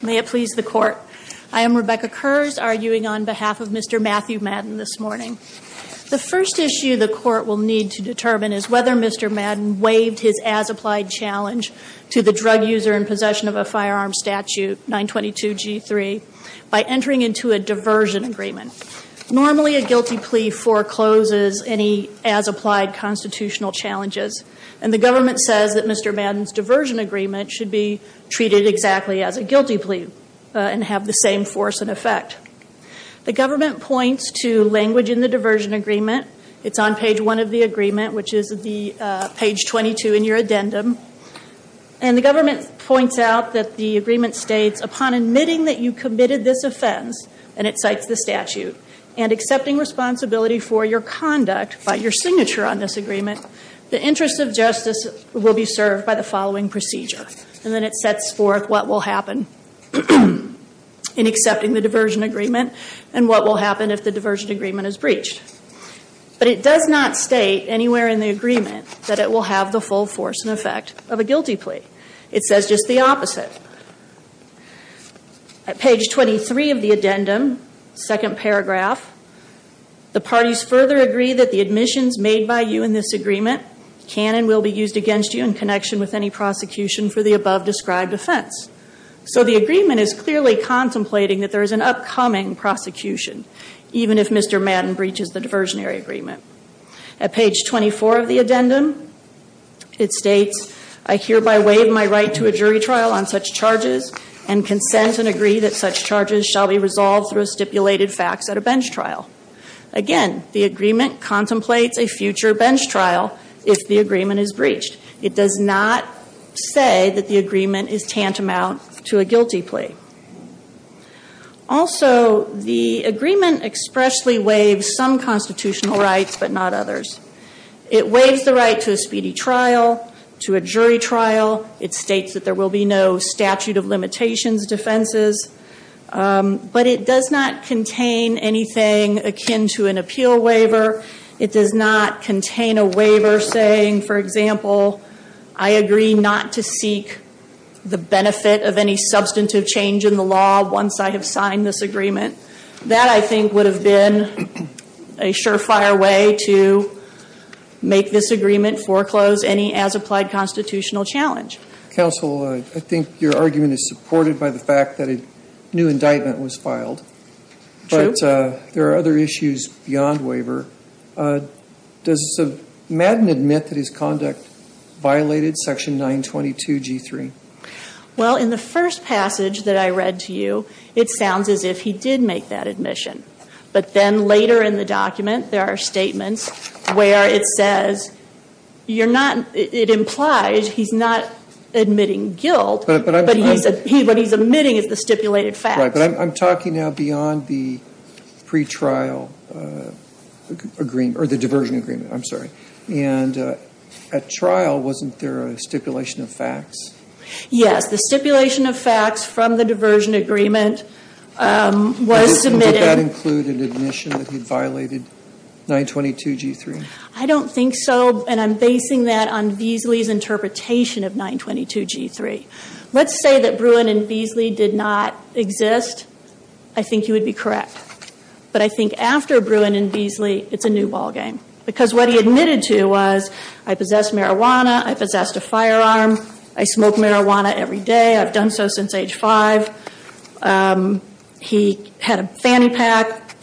May it please the court. I am Rebecca Kurz, arguing on behalf of Mr. Matthew Madden this morning. The first issue the court will need to determine is whether Mr. Madden waived his as-applied challenge to the drug user in possession of a firearm statute, 922 G3, by entering into a diversion agreement. Normally, a guilty plea forecloses any as-applied constitutional challenges, and the government says that Mr. Madden's diversion agreement should be treated exactly as a guilty plea and have the same force and effect. The government points to language in the diversion agreement. It's on page one of the agreement, which is page 22 in your addendum. And the government points out that the agreement states, upon admitting that you committed this offense, and it cites the statute, and accepting responsibility for your conduct by your signature on this agreement, the interest of justice will be served by the following procedure. And then it sets forth what will happen in accepting the diversion agreement, and what will happen if the diversion agreement is breached. But it does not state anywhere in the agreement that it will have the full force and effect of a guilty plea. It says just the opposite. At page 23 of the addendum, second paragraph, the parties further agree that the admissions made by you in this agreement can and will be used against you in connection with any prosecution for the above-described offense. So the agreement is clearly contemplating that there is an upcoming prosecution, even if Mr. Madden breaches the diversionary agreement. At page 24 of the addendum, it states, I hereby waive my right to a jury trial on such charges, and consent and agree that such charges shall be resolved through a stipulated fax at a bench trial. Again, the agreement contemplates a future bench trial if the agreement is breached. It does not say that the agreement is tantamount to a guilty plea. Also, the agreement expressly waives some constitutional rights, but not others. It waives the right to a speedy trial, to a jury trial. It states that there will be no statute of limitations defenses. But it does not contain anything akin to an appeal waiver. It does not contain a waiver saying, for example, I agree not to seek the benefit of any substantive change in the law once I have signed this agreement. That, I think, would have been a surefire way to make this agreement foreclose any as-applied constitutional challenge. Counsel, I think your argument is supported by the fact that a new indictment was filed. True. But there are other issues beyond waiver. Does Madden admit that his conduct violated section 922 G3? Well, in the first passage that I read to you, it sounds as if he did make that admission. But then later in the document, there are statements where it says you're not, it implies he's not admitting guilt, but what he's admitting is the stipulated facts. Right, but I'm talking now beyond the pre-trial agreement, or the diversion agreement, I'm sorry. And at trial, wasn't there a stipulation of facts? Yes, the stipulation of facts from the diversion agreement was submitted. Would that include an admission that he violated 922 G3? I don't think so, and I'm basing that on Beasley's interpretation of 922 G3. Let's say that Bruin and Beasley did not exist. I think you would be correct. But I think after Bruin and Beasley, it's a new ballgame. Because what he admitted to was, I possess marijuana, I possess a firearm, I smoke marijuana every day, I've done so since age five. He had a fanny pack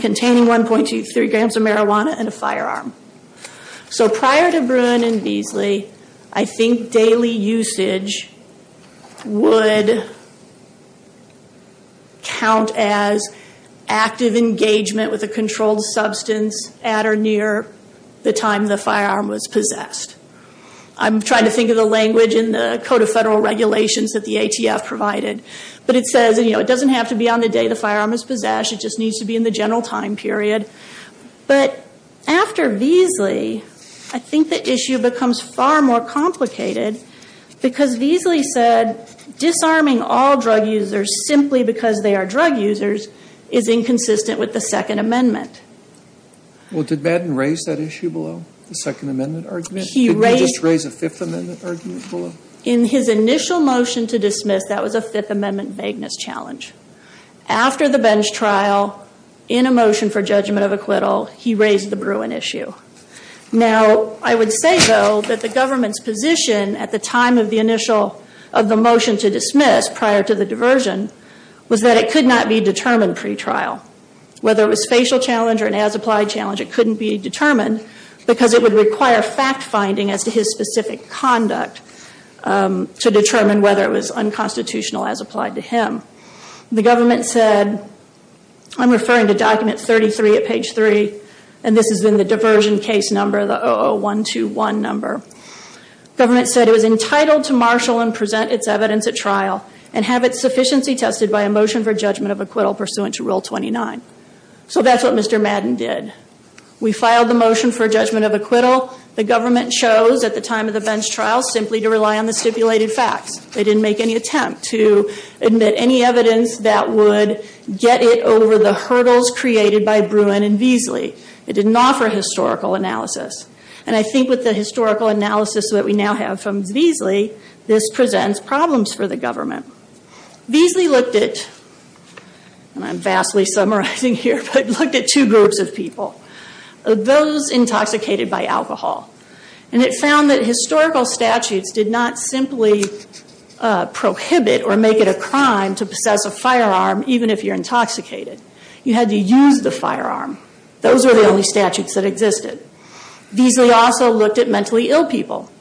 containing 1.23 grams of marijuana and a firearm. So prior to Bruin and Beasley, I think daily usage would count as active engagement with a controlled substance at or near the time the firearm was possessed. I'm trying to think of the language in the Code of Federal Regulations that the ATF provided. But it says, you know, it doesn't have to be on the day the firearm is possessed, it just needs to be in the general time period. But after Beasley, I think the issue becomes far more complicated. Because Beasley said disarming all drug users simply because they are drug users is inconsistent with the Second Amendment. Well, did Madden raise that issue below, the Second Amendment argument? He raised it. Did he just raise a Fifth Amendment argument below? In his initial motion to dismiss, that was a Fifth Amendment vagueness challenge. After the bench trial, in a motion for judgment of acquittal, he raised the Bruin issue. Now, I would say, though, that the government's position at the time of the initial, of the motion to dismiss prior to the diversion, was that it could not be determined pre-trial. Whether it was facial challenge or an as-applied challenge, it couldn't be determined. Because it would require fact-finding as to his specific conduct to determine whether it was unconstitutional as applied to him. The government said, I'm referring to document 33 at page 3, and this has been the diversion case number, the 00121 number. Government said it was entitled to marshal and present its evidence at trial, and have its sufficiency tested by a motion for judgment of acquittal pursuant to Rule 29. So that's what Mr. Madden did. We filed the motion for judgment of acquittal. The government chose, at the time of the bench trial, simply to rely on the stipulated facts. They didn't make any attempt to admit any evidence that would get it over the hurdles created by Bruin and Veasley. It didn't offer historical analysis. And I think with the historical analysis that we now have from Veasley, this presents problems for the government. Veasley looked at, and I'm vastly summarizing here, but looked at two groups of people. Those intoxicated by alcohol. And it found that historical statutes did not simply prohibit or make it a crime to possess a firearm, even if you're intoxicated. You had to use the firearm. Those were the only statutes that existed. Veasley also looked at mentally ill people.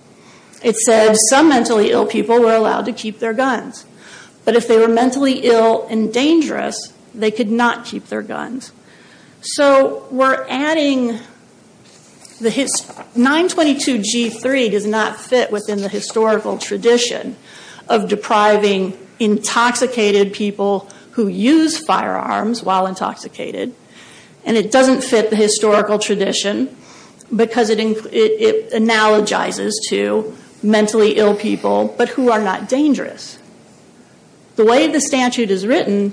It said some mentally ill people were allowed to keep their guns. But if they were mentally ill and dangerous, they could not keep their guns. So, we're adding, 922 G3 does not fit within the historical tradition of depriving intoxicated people who use firearms while intoxicated. And it doesn't fit the historical tradition, because it analogizes to mentally ill people, but who are not dangerous. The way the statute is written,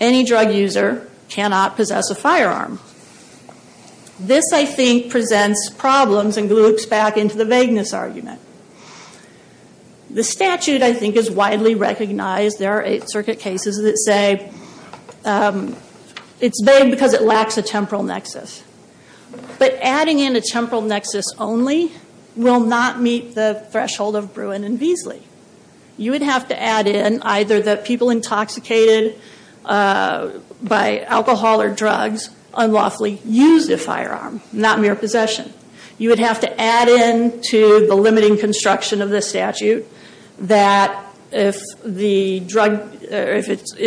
any drug user cannot possess a firearm. This, I think, presents problems and gloops back into the vagueness argument. The statute, I think, is widely recognized. There are Eighth Circuit cases that say it's vague because it lacks a temporal nexus. But adding in a temporal nexus only will not meet the threshold of Bruin and Veasley. You would have to add in either that people intoxicated by alcohol or drugs unlawfully used a firearm, not mere possession. You would have to add in to the limiting construction of this statute that if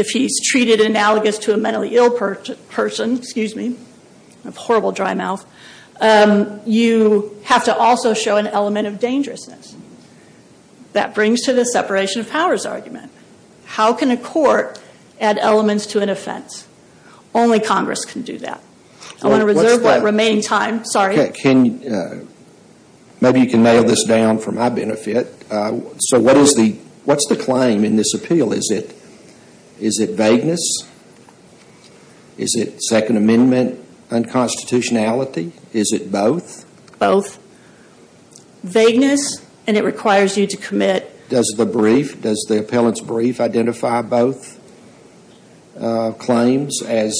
he's treated analogous to a mentally ill person, excuse me, I have a horrible dry mouth, you have to also show an element of dangerousness. That brings to the separation of powers argument. How can a court add elements to an offense? Only Congress can do that. I want to reserve that remaining time. Maybe you can nail this down for my benefit. So what's the claim in this appeal? Is it vagueness? Is it Second Amendment unconstitutionality? Is it both? Both. Vagueness, and it requires you to commit. Does the brief, does the appellant's brief identify both claims as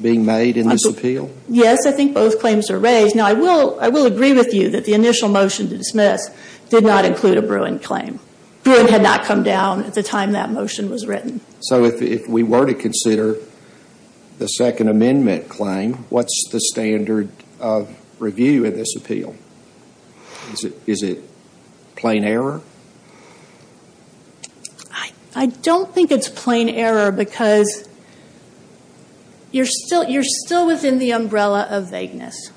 being made in this appeal? Yes, I think both claims are raised. Now, I will agree with you that the initial motion to dismiss did not include a Bruin claim. Bruin had not come down at the time that motion was written. So if we were to consider the Second Amendment claim, what's the standard of review in this appeal? Is it plain error? I don't think it's plain error because you're still within the umbrella of vagueness.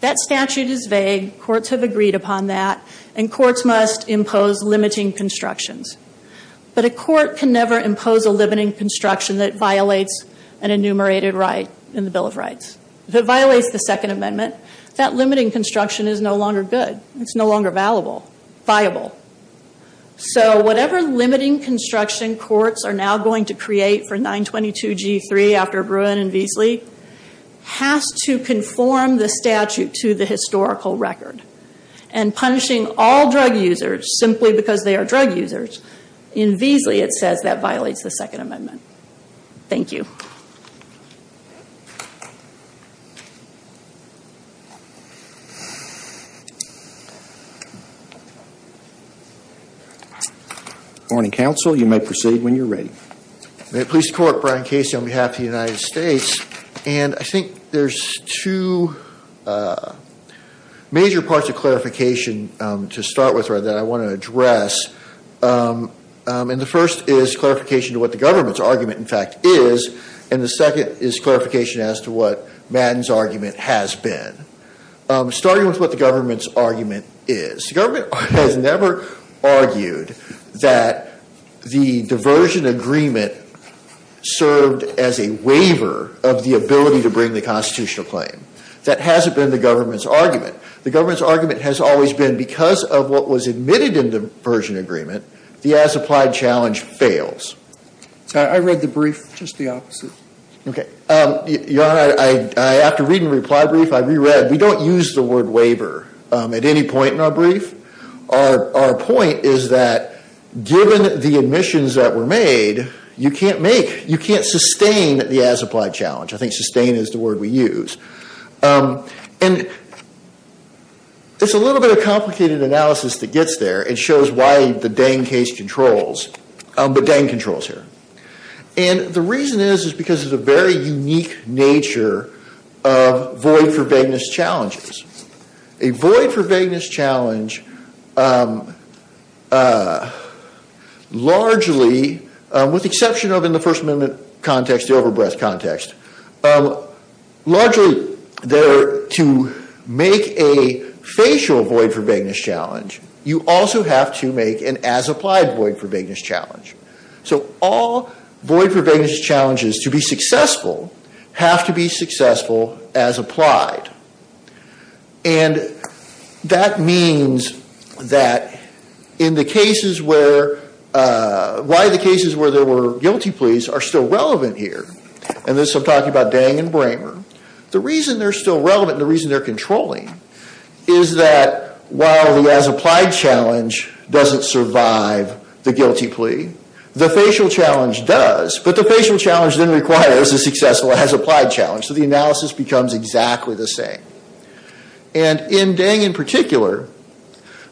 That statute is vague. Courts have agreed upon that, and courts must impose limiting constructions. But a court can never impose a limiting construction that violates an enumerated right in the Bill of Rights. If it violates the Second Amendment, that limiting construction is no longer good. It's no longer valuable, viable. So whatever limiting construction courts are now going to create for 922G3 after Bruin and Veasley has to conform the statute to the historical record. And punishing all drug users simply because they are drug users, in Veasley it says that violates the Second Amendment. Thank you. Good morning, counsel. You may proceed when you're ready. Police Court, Brian Casey on behalf of the United States. And I think there's two major parts of clarification to start with that I want to address. And the first is clarification to what the government's argument, in fact, is. And the second is clarification as to what Madden's argument has been. Starting with what the government's argument is. The government has never argued that the diversion agreement served as a waiver of the ability to bring the constitutional claim. That hasn't been the government's argument. The government's argument has always been because of what was admitted in the diversion agreement, the as-applied challenge fails. I read the brief just the opposite. Okay. Your Honor, after reading the reply brief, I reread. We don't use the word waiver at any point in our brief. Our point is that given the admissions that were made, you can't make, you can't sustain the as-applied challenge. I think sustain is the word we use. And it's a little bit of complicated analysis that gets there and shows why the Dang case controls, but Dang controls here. And the reason is is because of the very unique nature of void-for-vagueness challenges. A void-for-vagueness challenge largely, with the exception of in the First Amendment context, the overbreadth context, largely there to make a facial void-for-vagueness challenge, you also have to make an as-applied void-for-vagueness challenge. So all void-for-vagueness challenges to be successful have to be successful as applied. And that means that in the cases where, why the cases where there were guilty pleas are still relevant here, and this I'm talking about Dang and Bramer, the reason they're still relevant, the reason they're controlling, is that while the as-applied challenge doesn't survive the guilty plea, the facial challenge does. But the facial challenge then requires a successful as-applied challenge, so the analysis becomes exactly the same. And in Dang in particular,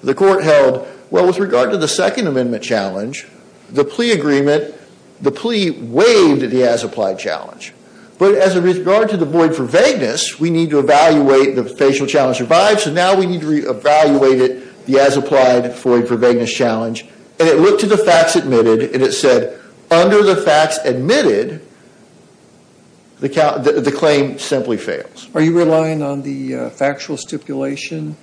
the court held, well, with regard to the Second Amendment challenge, the plea agreement, the plea waived the as-applied challenge. But as a regard to the void-for-vagueness, we need to evaluate the facial challenge revived, so now we need to re-evaluate it, the as-applied void-for-vagueness challenge. And it looked at the facts admitted, and it said, under the facts admitted, the claim simply fails. Are you relying on the factual stipulation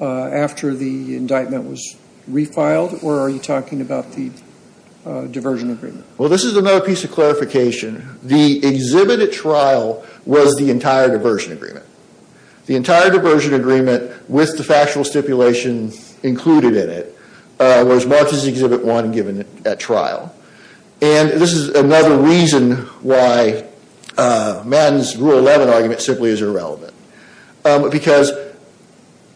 after the indictment was refiled, or are you talking about the diversion agreement? Well, this is another piece of clarification. The exhibit at trial was the entire diversion agreement. The entire diversion agreement, with the factual stipulation included in it, was marked as Exhibit 1 given at trial. And this is another reason why Madden's Rule 11 argument simply is irrelevant. Because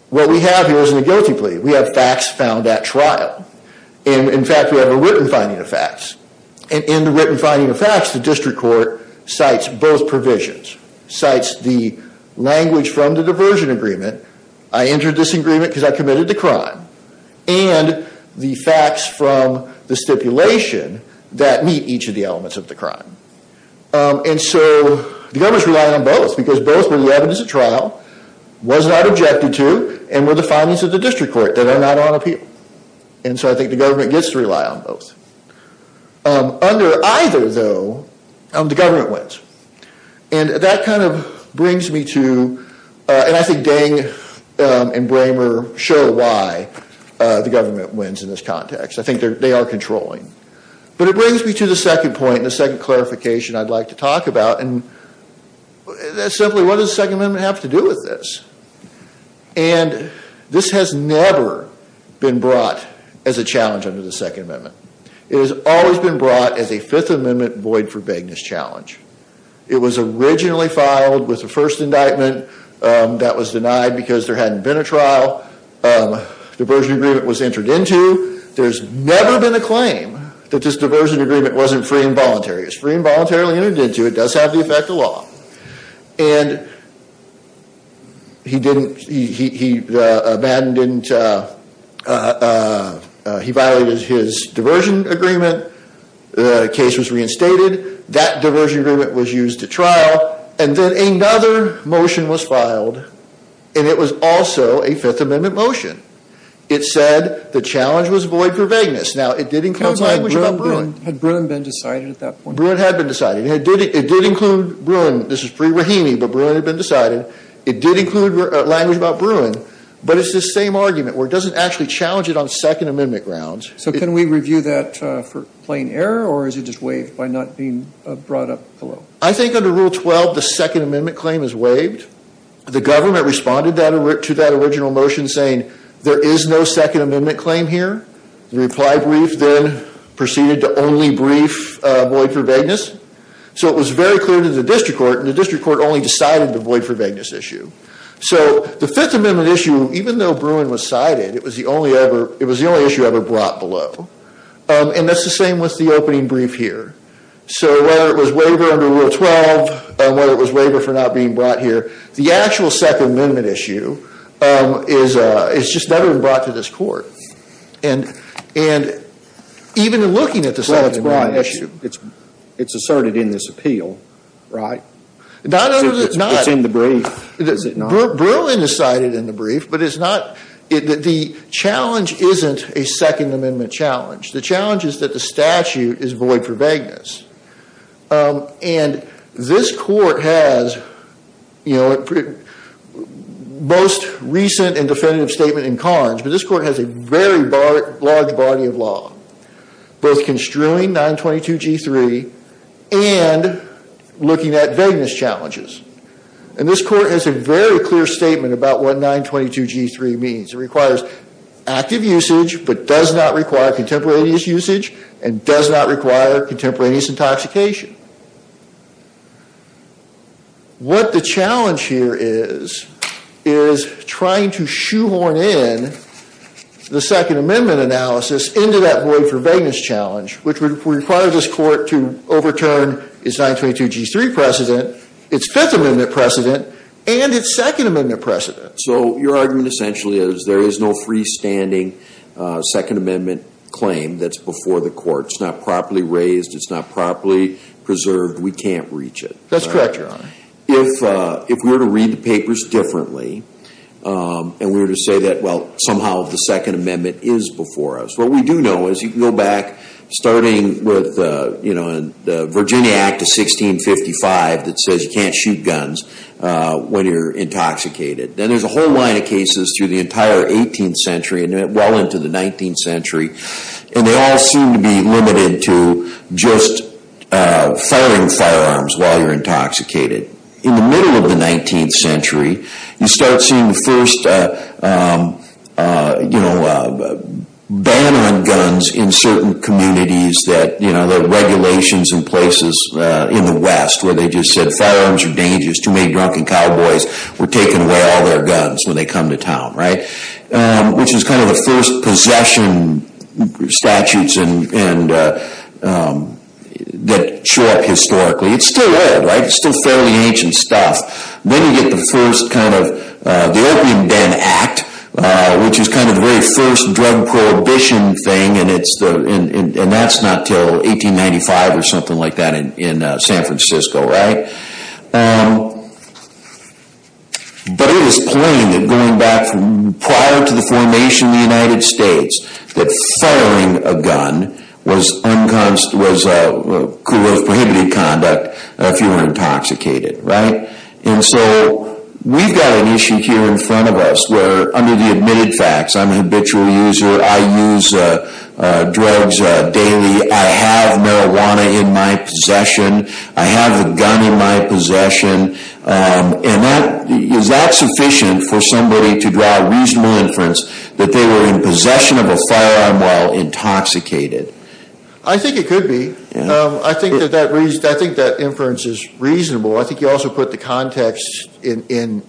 what we have here isn't a guilty plea. We have facts found at trial. And, in fact, we have a written finding of facts. And in the written finding of facts, the district court cites both provisions, cites the language from the diversion agreement, I entered this agreement because I committed the crime, and the facts from the stipulation that meet each of the elements of the crime. And so the government's relying on both, because both were the evidence at trial, was not objected to, and were the findings of the district court that are not on appeal. And so I think the government gets to rely on both. Under either, though, the government wins. And that kind of brings me to, and I think Dang and Bramer show why the government wins in this context. I think they are controlling. But it brings me to the second point and the second clarification I'd like to talk about. And that's simply, what does the Second Amendment have to do with this? And this has never been brought as a challenge under the Second Amendment. It has always been brought as a Fifth Amendment void-for-begginess challenge. It was originally filed with the first indictment. That was denied because there hadn't been a trial. Diversion agreement was entered into. There's never been a claim that this diversion agreement wasn't free and voluntary. It's free and voluntarily entered into. It does have the effect of law. And he violated his diversion agreement. The case was reinstated. That diversion agreement was used at trial. And then another motion was filed, and it was also a Fifth Amendment motion. It said the challenge was void-for-begginess. Now, it did include language about Bruin. Had Bruin been decided at that point? Bruin had been decided. It did include Bruin. This is pre-Rahimi, but Bruin had been decided. It did include language about Bruin. But it's this same argument where it doesn't actually challenge it on Second Amendment grounds. So can we review that for plain error, or is it just waived by not being brought up below? I think under Rule 12, the Second Amendment claim is waived. The government responded to that original motion saying there is no Second Amendment claim here. The reply brief then proceeded to only brief void-for-begginess. So it was very clear to the district court, and the district court only decided the void-for-begginess issue. So the Fifth Amendment issue, even though Bruin was cited, it was the only issue ever brought below. And that's the same with the opening brief here. So whether it was waiver under Rule 12, or whether it was waiver for not being brought here, the actual Second Amendment issue has just never been brought to this court. And even in looking at the Second Amendment issue. Well, that's why it's asserted in this appeal, right? No, no, no, it's not. It's in the brief. Is it not? Bruin is cited in the brief, but it's not. The challenge isn't a Second Amendment challenge. The challenge is that the statute is void-for-begginess. And this court has, you know, most recent and definitive statement in Carnes, but this court has a very large body of law. Both construing 922G3 and looking at begginess challenges. And this court has a very clear statement about what 922G3 means. It requires active usage, but does not require contemporaneous usage, and does not require contemporaneous intoxication. What the challenge here is, is trying to shoehorn in the Second Amendment analysis into that void-for-begginess challenge, which would require this court to overturn its 922G3 precedent, its Fifth Amendment precedent, and its Second Amendment precedent. So your argument essentially is there is no freestanding Second Amendment claim that's before the court. It's not properly raised. It's not properly preserved. We can't reach it. That's correct, Your Honor. If we were to read the papers differently and we were to say that, well, somehow the Second Amendment is before us, what we do know is you can go back, starting with the Virginia Act of 1655 that says you can't shoot guns when you're intoxicated. And there's a whole line of cases through the entire 18th century and well into the 19th century, and they all seem to be limited to just firing firearms while you're intoxicated. In the middle of the 19th century, you start seeing the first, you know, ban on guns in certain communities that, you know, the regulations in places in the West where they just said firearms are dangerous, too many drunken cowboys were taking away all their guns when they come to town, right? Which is kind of the first possession statutes that show up historically. It's still old, right? It's still fairly ancient stuff. Then you get the first kind of the Opium Den Act, which is kind of the very first drug prohibition thing, and that's not until 1895 or something like that in San Francisco, right? But it is plain that going back prior to the formation of the United States, that firing a gun was prohibited conduct if you were intoxicated, right? And so we've got an issue here in front of us where under the admitted facts, I'm a habitual user, I use drugs daily, I have marijuana in my possession, I have a gun in my possession, and is that sufficient for somebody to draw a reasonable inference that they were in possession of a firearm while intoxicated? I think it could be. I think that inference is reasonable. I think you also put the context in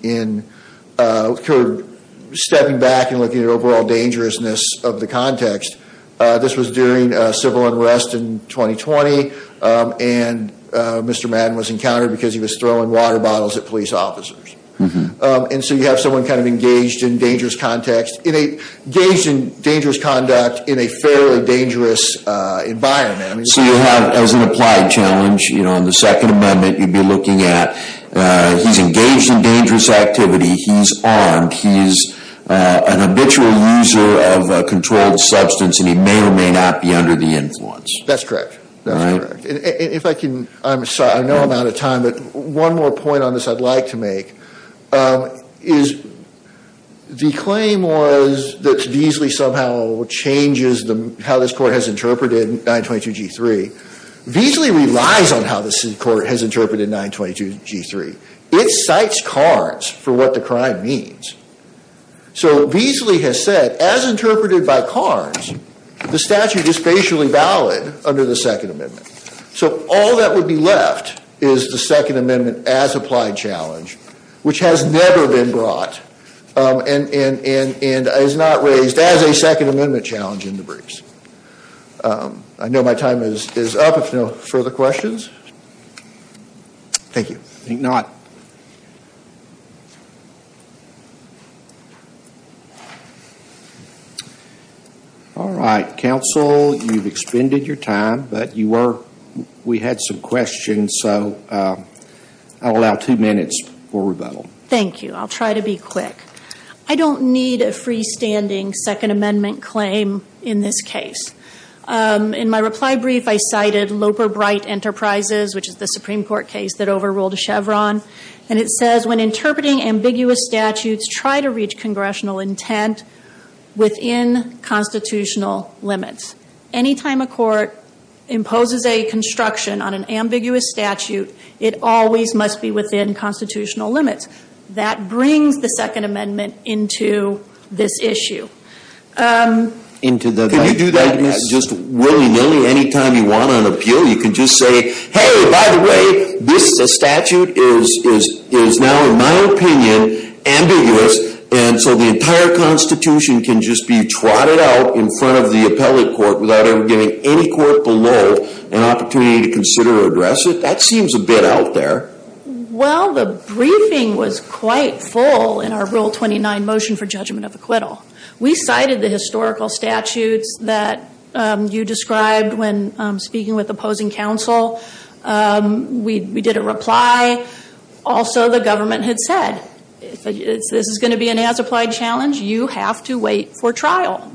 sort of stepping back and looking at overall dangerousness of the context. This was during civil unrest in 2020, and Mr. Madden was encountered because he was throwing water bottles at police officers. And so you have someone kind of engaged in dangerous conduct in a fairly dangerous environment. So you have, as an applied challenge, you know, in the Second Amendment, you'd be looking at he's engaged in dangerous activity, he's armed, he's an habitual user of a controlled substance, and he may or may not be under the influence. That's correct. That's correct. And if I can, I'm sorry, I know I'm out of time, but one more point on this I'd like to make, is the claim was that Veasley somehow changes how this court has interpreted 922 G3. Veasley relies on how this court has interpreted 922 G3. It cites Carnes for what the crime means. So Veasley has said, as interpreted by Carnes, the statute is facially valid under the Second Amendment. So all that would be left is the Second Amendment as applied challenge, which has never been brought and is not raised as a Second Amendment challenge in the briefs. I know my time is up. If no further questions. Thank you. I think not. All right. Counsel, you've expended your time, but we had some questions, so I'll allow two minutes for rebuttal. Thank you. I'll try to be quick. I don't need a freestanding Second Amendment claim in this case. In my reply brief, I cited Loper Bright Enterprises, which is the Supreme Court case that overruled Chevron, and it says, when interpreting ambiguous statutes, try to reach congressional intent within constitutional limits. Anytime a court imposes a construction on an ambiguous statute, it always must be within constitutional limits. That brings the Second Amendment into this issue. Can you do that just willy-nilly? Anytime you want on appeal, you can just say, hey, by the way, this statute is now, in my opinion, ambiguous, and so the entire Constitution can just be trotted out in front of the appellate court without ever giving any court below an opportunity to consider or address it? That seems a bit out there. Well, the briefing was quite full in our Rule 29 motion for judgment of acquittal. We cited the historical statutes that you described when speaking with opposing counsel. We did a reply. Also, the government had said, if this is going to be an as-applied challenge, you have to wait for trial.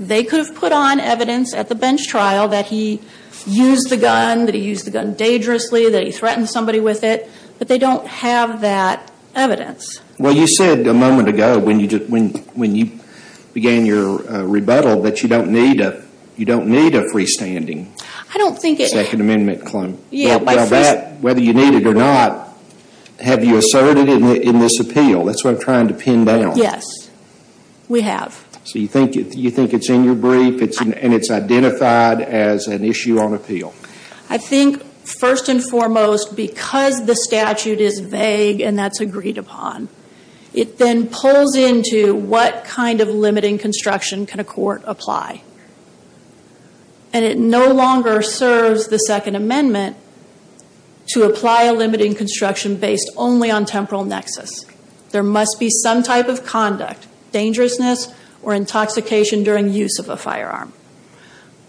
They could have put on evidence at the bench trial that he used the gun, that he used the gun dangerously, that he threatened somebody with it, but they don't have that evidence. Well, you said a moment ago when you began your rebuttal that you don't need a freestanding Second Amendment claim. Well, that, whether you need it or not, have you asserted in this appeal? That's what I'm trying to pin down. Yes, we have. So you think it's in your brief and it's identified as an issue on appeal? I think, first and foremost, because the statute is vague and that's agreed upon, it then pulls into what kind of limiting construction can a court apply. And it no longer serves the Second Amendment to apply a limiting construction based only on temporal nexus. There must be some type of conduct, dangerousness, or intoxication during use of a firearm.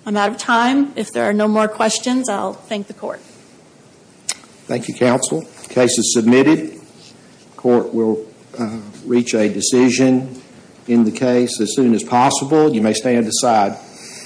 I'm out of time. If there are no more questions, I'll thank the court. Thank you, counsel. The case is submitted. The court will reach a decision in the case as soon as possible. You may stand aside.